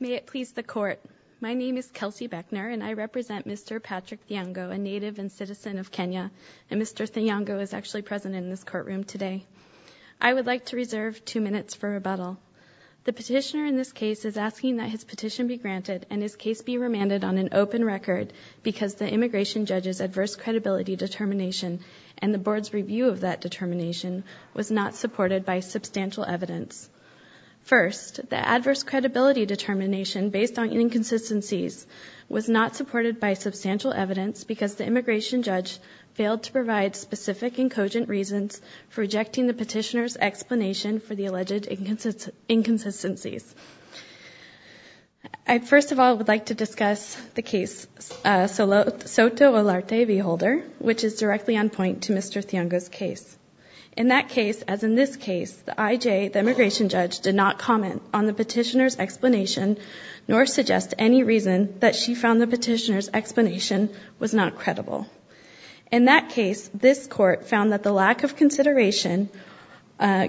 May it please the court, my name is Kelsey Beckner and I represent Mr. Patrick Thiongo, a native and citizen of Kenya, and Mr. Thiongo is actually present in this courtroom today. I would like to reserve two minutes for rebuttal. The petitioner in this case is asking that his petition be granted and his case be remanded on an open record because the immigration judge's adverse credibility determination and the board's review of that determination was not supported by substantial evidence. First, the adverse credibility determination based on inconsistencies was not supported by substantial evidence because the immigration judge failed to provide specific and cogent reasons for rejecting the petitioner's explanation for the alleged inconsistencies. I first of all would like to discuss the case Soto Olarte v. Holder, which is directly on point to Mr. Thiongo's case. In that case, as in this case, the IJ, the immigration judge, did not comment on the petitioner's explanation nor suggest any reason that she found the petitioner's explanation was not credible. In that case, this court found that the lack of consideration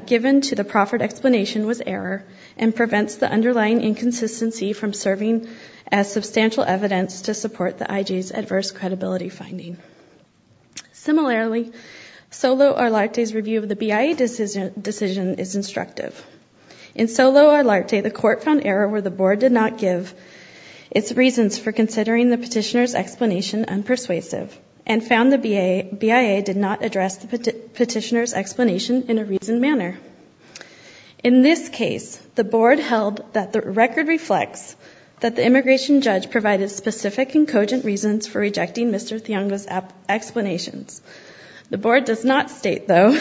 given to the proffered explanation was error and prevents the underlying inconsistency from serving as substantial evidence to support the IJ's adverse credibility finding. Similarly, Soto Olarte's review of the BIA decision is instructive. In Soto Olarte, the court found error where the board did not give its reasons for considering the petitioner's explanation unpersuasive and found the BIA did not address the petitioner's explanation in a reasoned manner. In this case, the board held that the record reflects that the immigration judge provided specific and cogent reasons for rejecting Mr. Thiongo's explanations. The board does not state, though,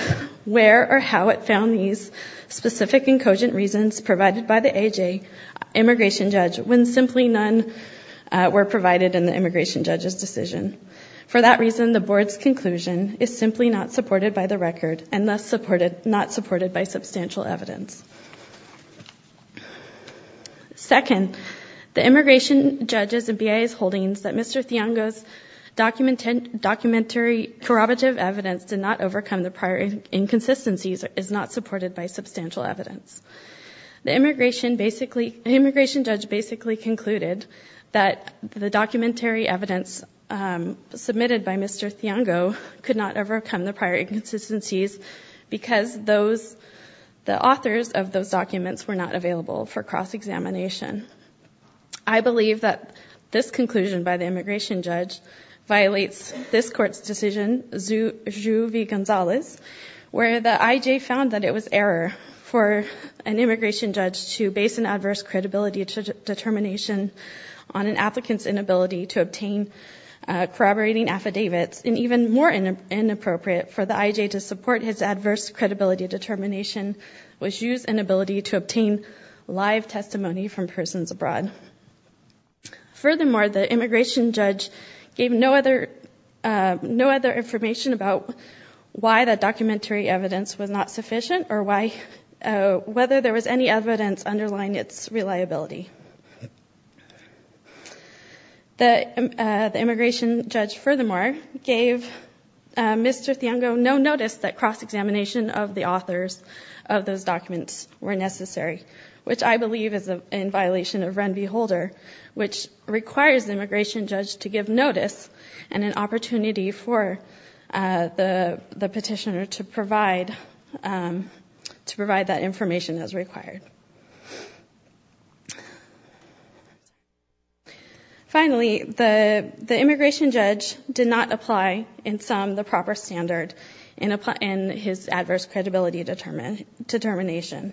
where or how it found these specific and cogent reasons provided by the IJ immigration judge when simply none were provided in the immigration judge's decision. For that reason, the board's conclusion is simply not supported by the record and thus not supported by substantial evidence. Second, the immigration judge's and BIA's holdings that Mr. Thiongo's documentary corroborative evidence did not overcome the prior inconsistencies is not supported by substantial evidence. The immigration judge basically concluded that the documentary evidence submitted by Mr. Thiongo could not overcome the prior inconsistencies because those, the authors of those documents were not available for cross-examination. I believe that this conclusion by the immigration judge violates this court's decision, Zhu v. Gonzales, where the IJ found that it was error for an immigration judge to base an adverse credibility determination on an applicant's inability to obtain corroborating affidavits, and even more inappropriate for the IJ to support his adverse credibility determination was Zhu's inability to obtain live testimony from persons abroad. Furthermore, the immigration judge gave no other information about why that documentary evidence was not sufficient or why, whether there was any evidence underlying its reliability. The immigration judge furthermore gave Mr. Thiongo no notice that cross-examination of the authors of those documents were necessary, which I believe is in violation of Ren v. Holder, which requires the immigration judge to give notice and an opportunity for the petitioner to provide, to provide that information as required. Finally, the immigration judge did not apply, in sum, the proper standard in his adverse credibility determination.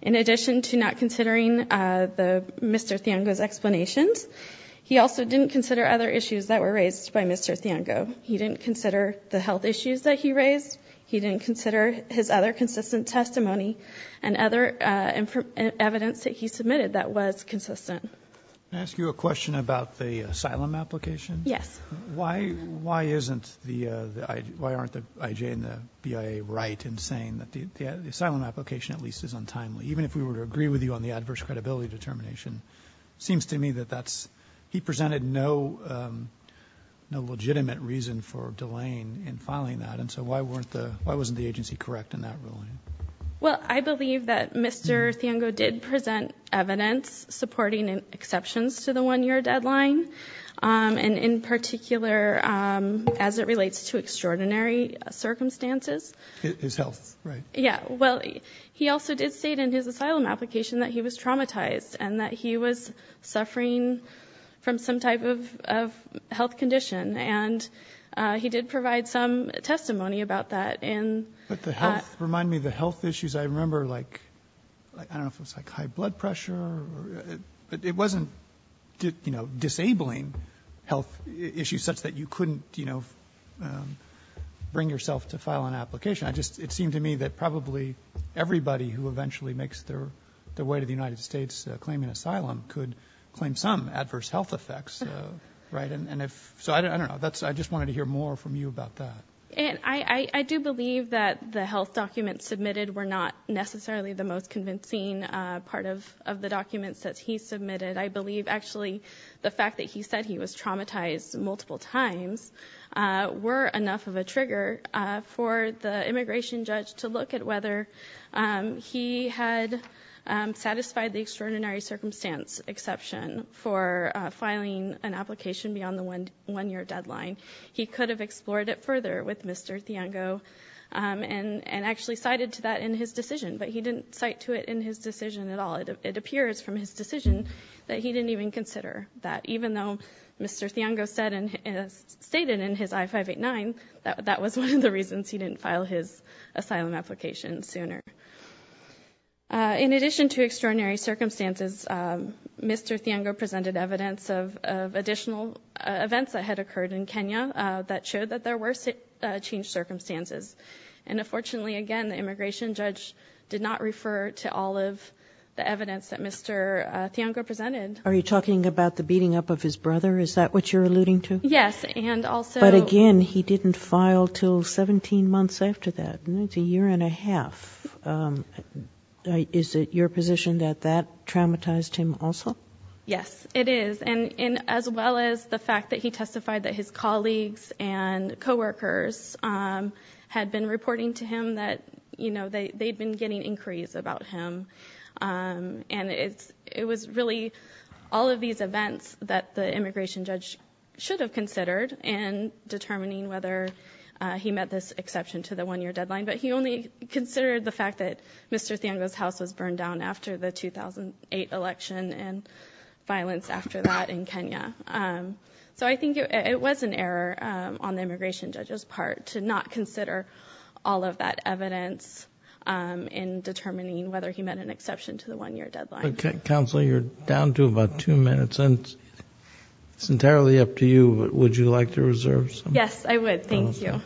In addition to not considering Mr. Thiongo's explanations, he also didn't consider other issues that were raised by Mr. Thiongo. He didn't consider the health issues that he raised. He didn't consider his other consistent testimony and other evidence that he submitted that was consistent. Can I ask you a question about the asylum application? Yes. Why isn't the, why aren't the IJ and the BIA right in saying that the asylum application at least is untimely? Even if we were to agree with you on the adverse credibility determination. Seems to me that that's, he presented no legitimate reason for delaying in filing that. And so why wasn't the agency correct in that ruling? Well, I believe that Mr. Thiongo did present evidence supporting exceptions to the one year deadline. And in particular, as it relates to extraordinary circumstances. His health, right. Yeah, well, he also did state in his asylum application that he was traumatized and that he was suffering from some type of health condition. And he did provide some testimony about that in. But the health, remind me of the health issues. I remember like, I don't know if it was like high blood pressure or. It wasn't disabling health issues such that you couldn't bring yourself to file an application. I just, it seemed to me that probably everybody who eventually makes their way to the United States claiming asylum could claim some adverse health effects, right? So I don't know, I just wanted to hear more from you about that. And I do believe that the health documents submitted were not necessarily the most convincing part of the documents that he submitted. I believe actually the fact that he said he was traumatized multiple times were enough of a trigger for the immigration judge to look at whether he had satisfied the extraordinary circumstance exception for filing an application beyond the one year deadline. He could have explored it further with Mr. Thiong'o and actually cited to that in his decision. But he didn't cite to it in his decision at all. It appears from his decision that he didn't even consider that even though Mr. Thiong'o stated in his I-589 that that was one of the reasons he didn't file his asylum application sooner. In addition to extraordinary circumstances, Mr. Thiong'o presented evidence of additional events that had occurred in Kenya that showed that there were changed circumstances. And unfortunately, again, the immigration judge did not refer to all of the evidence that Mr. Thiong'o presented. Are you talking about the beating up of his brother? Is that what you're alluding to? Yes, and also- But again, he didn't file until 17 months after that. It's a year and a half. Is it your position that that traumatized him also? Yes, it is. And as well as the fact that he testified that his colleagues and co-workers had been reporting to him that they'd been getting inquiries about him. And it was really all of these events that the immigration judge should have considered in determining whether he met this exception to the one year deadline. But he only considered the fact that Mr. Thiong'o's house was burned down after the 2008 election and violence after that in Kenya. So I think it was an error on the immigration judge's part to not consider all of that evidence in determining whether he met an exception to the one year deadline. Counselor, you're down to about two minutes. It's entirely up to you, but would you like to reserve some? Yes, I would. Thank you.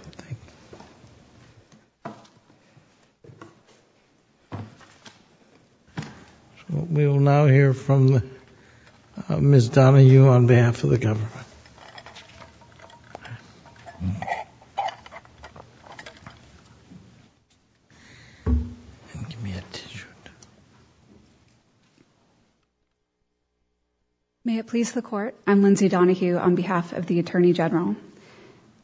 We will now hear from Ms. Donahue on behalf of the government. Give me a tissue. May it please the court, I'm Lindsay Donahue on behalf of the Attorney General.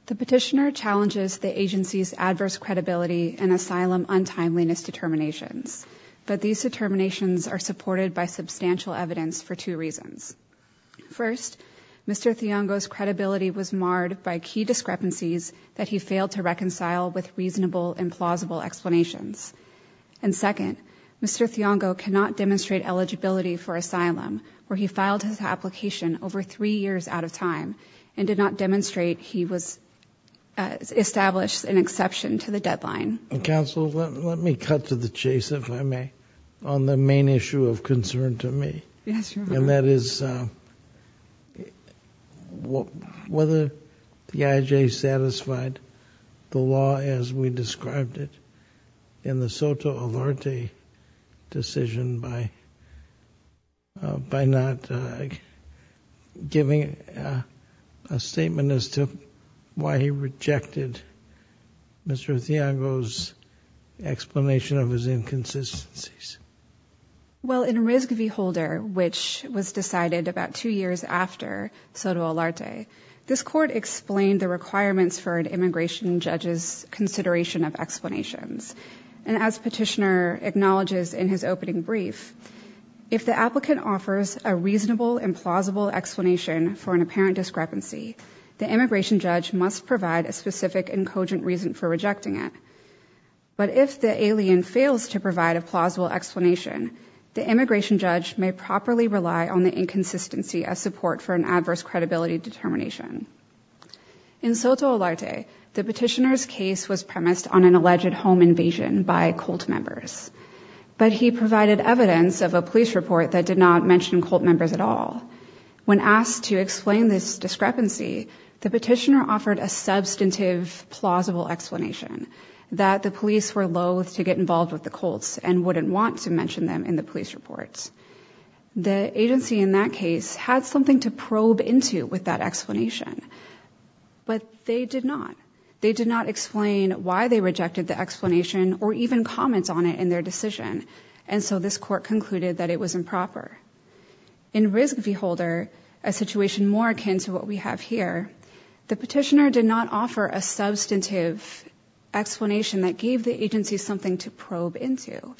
The petitioner challenges the agency's adverse credibility and asylum untimeliness determinations. But these determinations are supported by substantial evidence for two reasons. First, Mr. Thiong'o's credibility was marred by key discrepancies that he failed to reconcile with reasonable and plausible explanations. And second, Mr. Thiong'o cannot demonstrate eligibility for application over three years out of time and did not demonstrate he was established an exception to the deadline. Counsel, let me cut to the chase, if I may, on the main issue of concern to me. Yes, Your Honor. And that is whether the IJ satisfied the law as we described it in the Soto Alarte decision by not giving a statement as to why he rejected Mr. Thiong'o's explanation of his inconsistencies. Well, in Rizk v. Holder, which was decided about two years after Soto Alarte, this court explained the requirements for an immigration judge's consideration of acknowledges in his opening brief, if the applicant offers a reasonable and plausible explanation for an apparent discrepancy, the immigration judge must provide a specific and cogent reason for rejecting it. But if the alien fails to provide a plausible explanation, the immigration judge may properly rely on the inconsistency as support for an adverse credibility determination. In Soto Alarte, the petitioner's case was premised on an alleged home invasion by cult members. But he provided evidence of a police report that did not mention cult members at all. When asked to explain this discrepancy, the petitioner offered a substantive, plausible explanation that the police were loathe to get involved with the cults and wouldn't want to mention them in the police reports. The agency in that case had something to probe into with that explanation. But they did not. They did not explain why they rejected the explanation or even comment on it in their decision. And so this court concluded that it was improper. In Rizk v. Holder, a situation more akin to what we have here, the petitioner did not offer a substantive explanation that gave the agency something to probe into.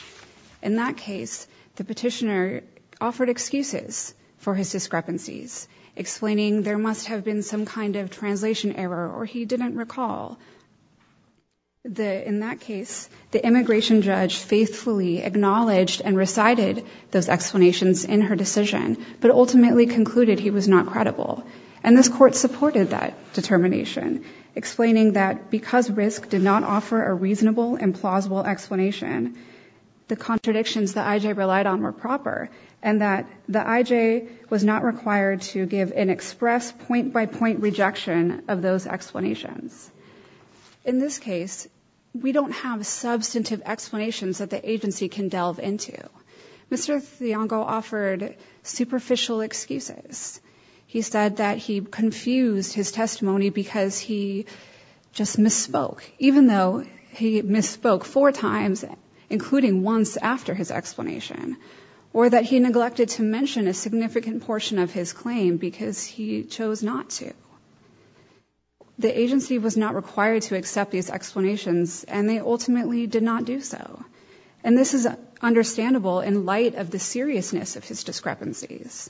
In that case, the petitioner offered excuses for his discrepancies, explaining there must have been some kind of translation error or he didn't recall. In that case, the immigration judge faithfully acknowledged and recited those explanations in her decision, but ultimately concluded he was not credible. And this court supported that determination, explaining that because Rizk did not offer a reasonable and plausible explanation, the contradictions that IJ relied on were proper. And that the IJ was not required to give an express point-by-point rejection of those explanations. In this case, we don't have substantive explanations that the agency can delve into. Mr. Thiong'o offered superficial excuses. He said that he confused his testimony because he just misspoke, even though he misspoke four times, including once after his explanation. Or that he neglected to mention a significant portion of his claim, because he chose not to. The agency was not required to accept these explanations, and they ultimately did not do so. And this is understandable in light of the seriousness of his discrepancies.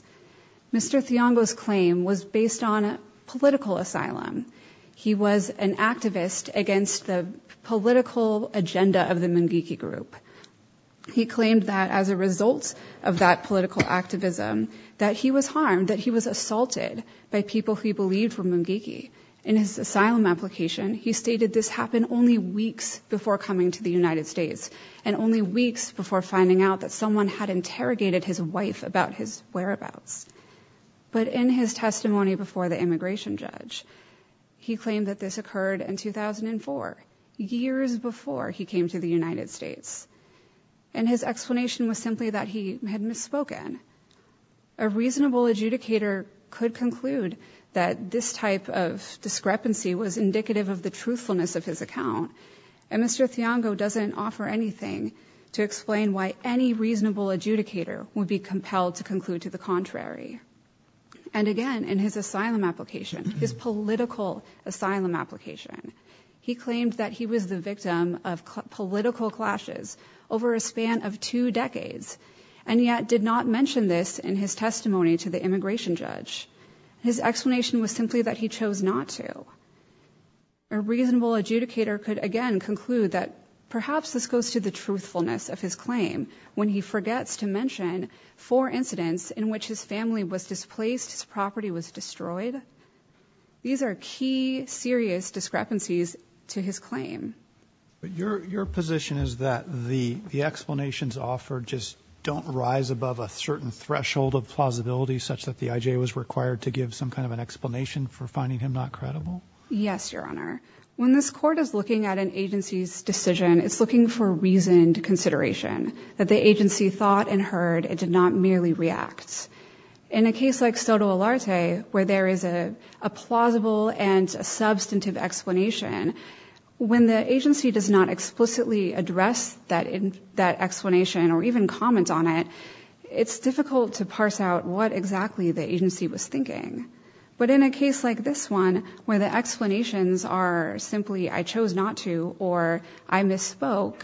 Mr. Thiong'o's claim was based on a political asylum. He was an activist against the political agenda of the Mungiki group. He claimed that as a result of that political activism, that he was harmed, that he was assaulted by people who he believed were Mungiki. In his asylum application, he stated this happened only weeks before coming to the United States. And only weeks before finding out that someone had interrogated his wife about his whereabouts. But in his testimony before the immigration judge, he claimed that this occurred in 2004, years before he came to the United States. And his explanation was simply that he had misspoken. A reasonable adjudicator could conclude that this type of discrepancy was indicative of the truthfulness of his account. And Mr. Thiong'o doesn't offer anything to explain why any reasonable adjudicator would be compelled to conclude to the contrary. And again, in his asylum application, his political asylum application, he claimed that he was the victim of political clashes over a span of two decades. And yet did not mention this in his testimony to the immigration judge. His explanation was simply that he chose not to. A reasonable adjudicator could again conclude that perhaps this goes to the truthfulness of his claim when he forgets to mention four incidents in which his family was displaced, his property was destroyed. These are key serious discrepancies to his claim. But your position is that the explanations offered just don't rise above a certain threshold of plausibility such that the IJ was required to give some kind of an explanation for finding him not credible? Yes, your honor. When this court is looking at an agency's decision, it's looking for reasoned consideration. That the agency thought and heard, it did not merely react. In a case like Stoto-Olarte, where there is a plausible and a substantive explanation, when the agency does not explicitly address that explanation or even comment on it, it's difficult to parse out what exactly the agency was thinking. But in a case like this one, where the explanations are simply I chose not to or I misspoke.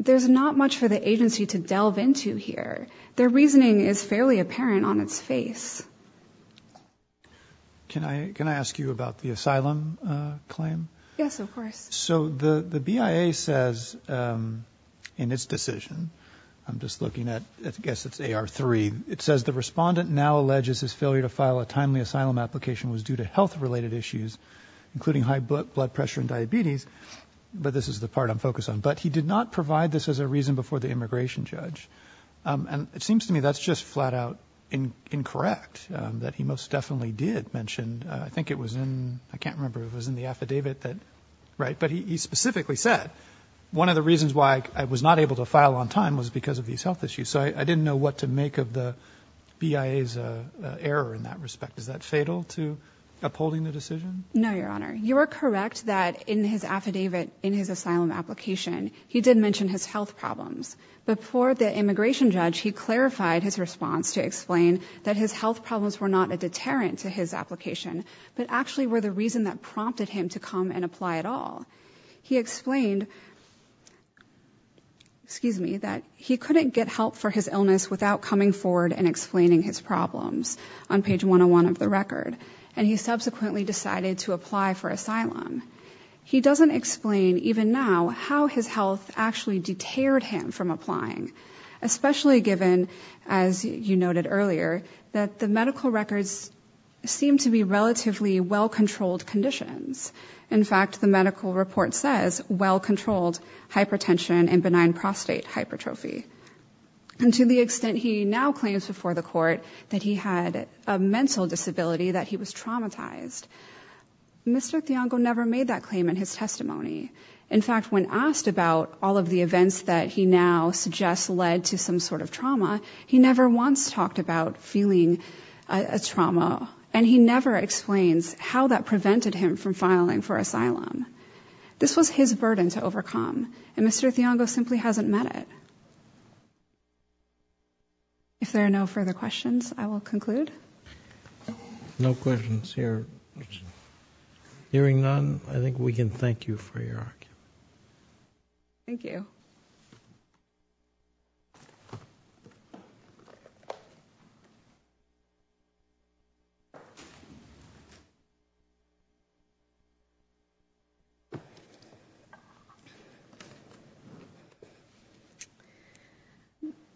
There's not much for the agency to delve into here. Their reasoning is fairly apparent on its face. Can I ask you about the asylum claim? Yes, of course. So the BIA says in its decision, I'm just looking at, I guess it's AR3. It says the respondent now alleges his failure to file a timely asylum application was due to health related issues, including high blood pressure and diabetes. But this is the part I'm focused on. But he did not provide this as a reason before the immigration judge. And it seems to me that's just flat out incorrect, that he most definitely did mention. I think it was in, I can't remember, it was in the affidavit that, right? But he specifically said, one of the reasons why I was not able to file on time was because of these health issues. So I didn't know what to make of the BIA's error in that respect. Is that fatal to upholding the decision? No, Your Honor. You are correct that in his affidavit, in his asylum application, he did mention his health problems. Before the immigration judge, he clarified his response to explain that his health problems were not a deterrent to his application, but actually were the reason that prompted him to come and apply at all. He explained, excuse me, that he couldn't get help for his illness without coming forward and explaining his problems on page 101 of the record, and he subsequently decided to apply for asylum. He doesn't explain, even now, how his health actually deterred him from applying, especially given, as you noted earlier, that the medical records seem to be relatively well-controlled conditions. In fact, the medical report says well-controlled hypertension and benign prostate hypertrophy. And to the extent he now claims before the court that he had a mental disability, that he was traumatized, Mr. Thiong'o never made that claim in his testimony. In fact, when asked about all of the events that he now suggests led to some sort of trauma, he never once talked about feeling a trauma, and he never explains how that prevented him from filing for asylum. This was his burden to overcome, and Mr. Thiong'o simply hasn't met it. If there are no further questions, I will conclude. No questions here. Hearing none, I think we can thank you for your argument. Thank you.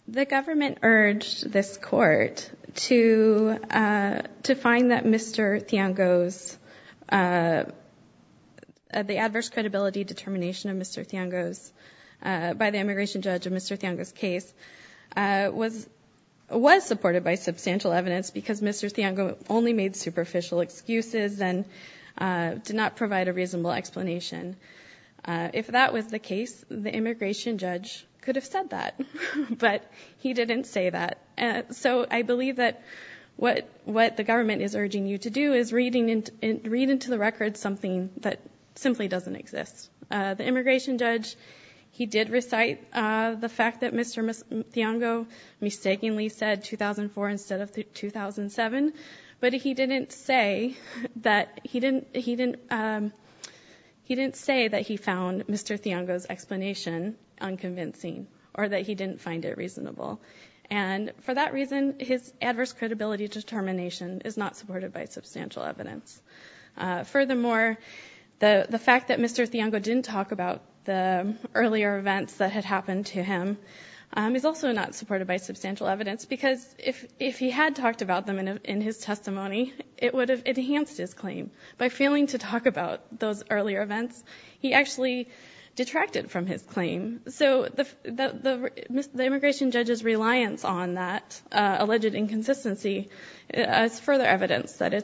The government urged this court to find that Mr. Thiong'o's, the adverse credibility determination of Mr. Thiong'o's, by the immigration judge of Mr. Thiong'o's case, was supported by substantial evidence because Mr. Thiong'o only made superficial excuses and did not provide a reasonable explanation, if that was the case, the immigration judge could have said that. But he didn't say that. So I believe that what the government is urging you to do is read into the record something that simply doesn't exist. The immigration judge, he did recite the fact that Mr. Thiong'o mistakenly said 2004 instead of 2007, but he didn't say that he found Mr. Thiong'o's claim to be false. Furthermore, the fact that Mr. Thiong'o didn't talk about the earlier events that had happened to him is also not supported by substantial evidence because if he had talked about them in his testimony, it would have enhanced his claim. By failing to talk about those earlier events, he actually detracted from his claim. So the immigration judge's reliance on that alleged inconsistency is further evidence that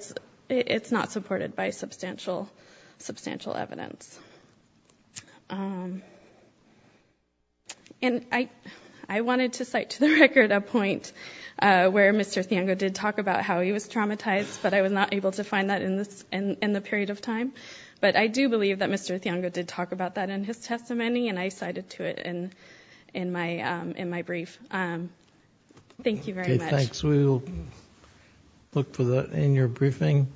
it's not supported by substantial evidence. And I wanted to cite to the record a point where Mr. Thiong'o did talk about how he was traumatized, but I was not able to find that in the period of time. But I do believe that Mr. Thiong'o did talk about that in his testimony, and I cited to it in my brief. Thank you very much. Thanks, we will look for that in your briefing,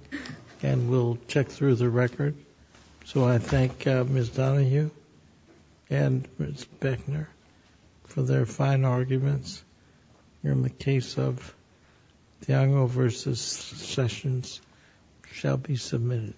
and we'll check through the record. So I thank Ms. Donahue and Ms. Beckner for their fine arguments. In the case of Thiong'o versus Sessions, shall be submitted.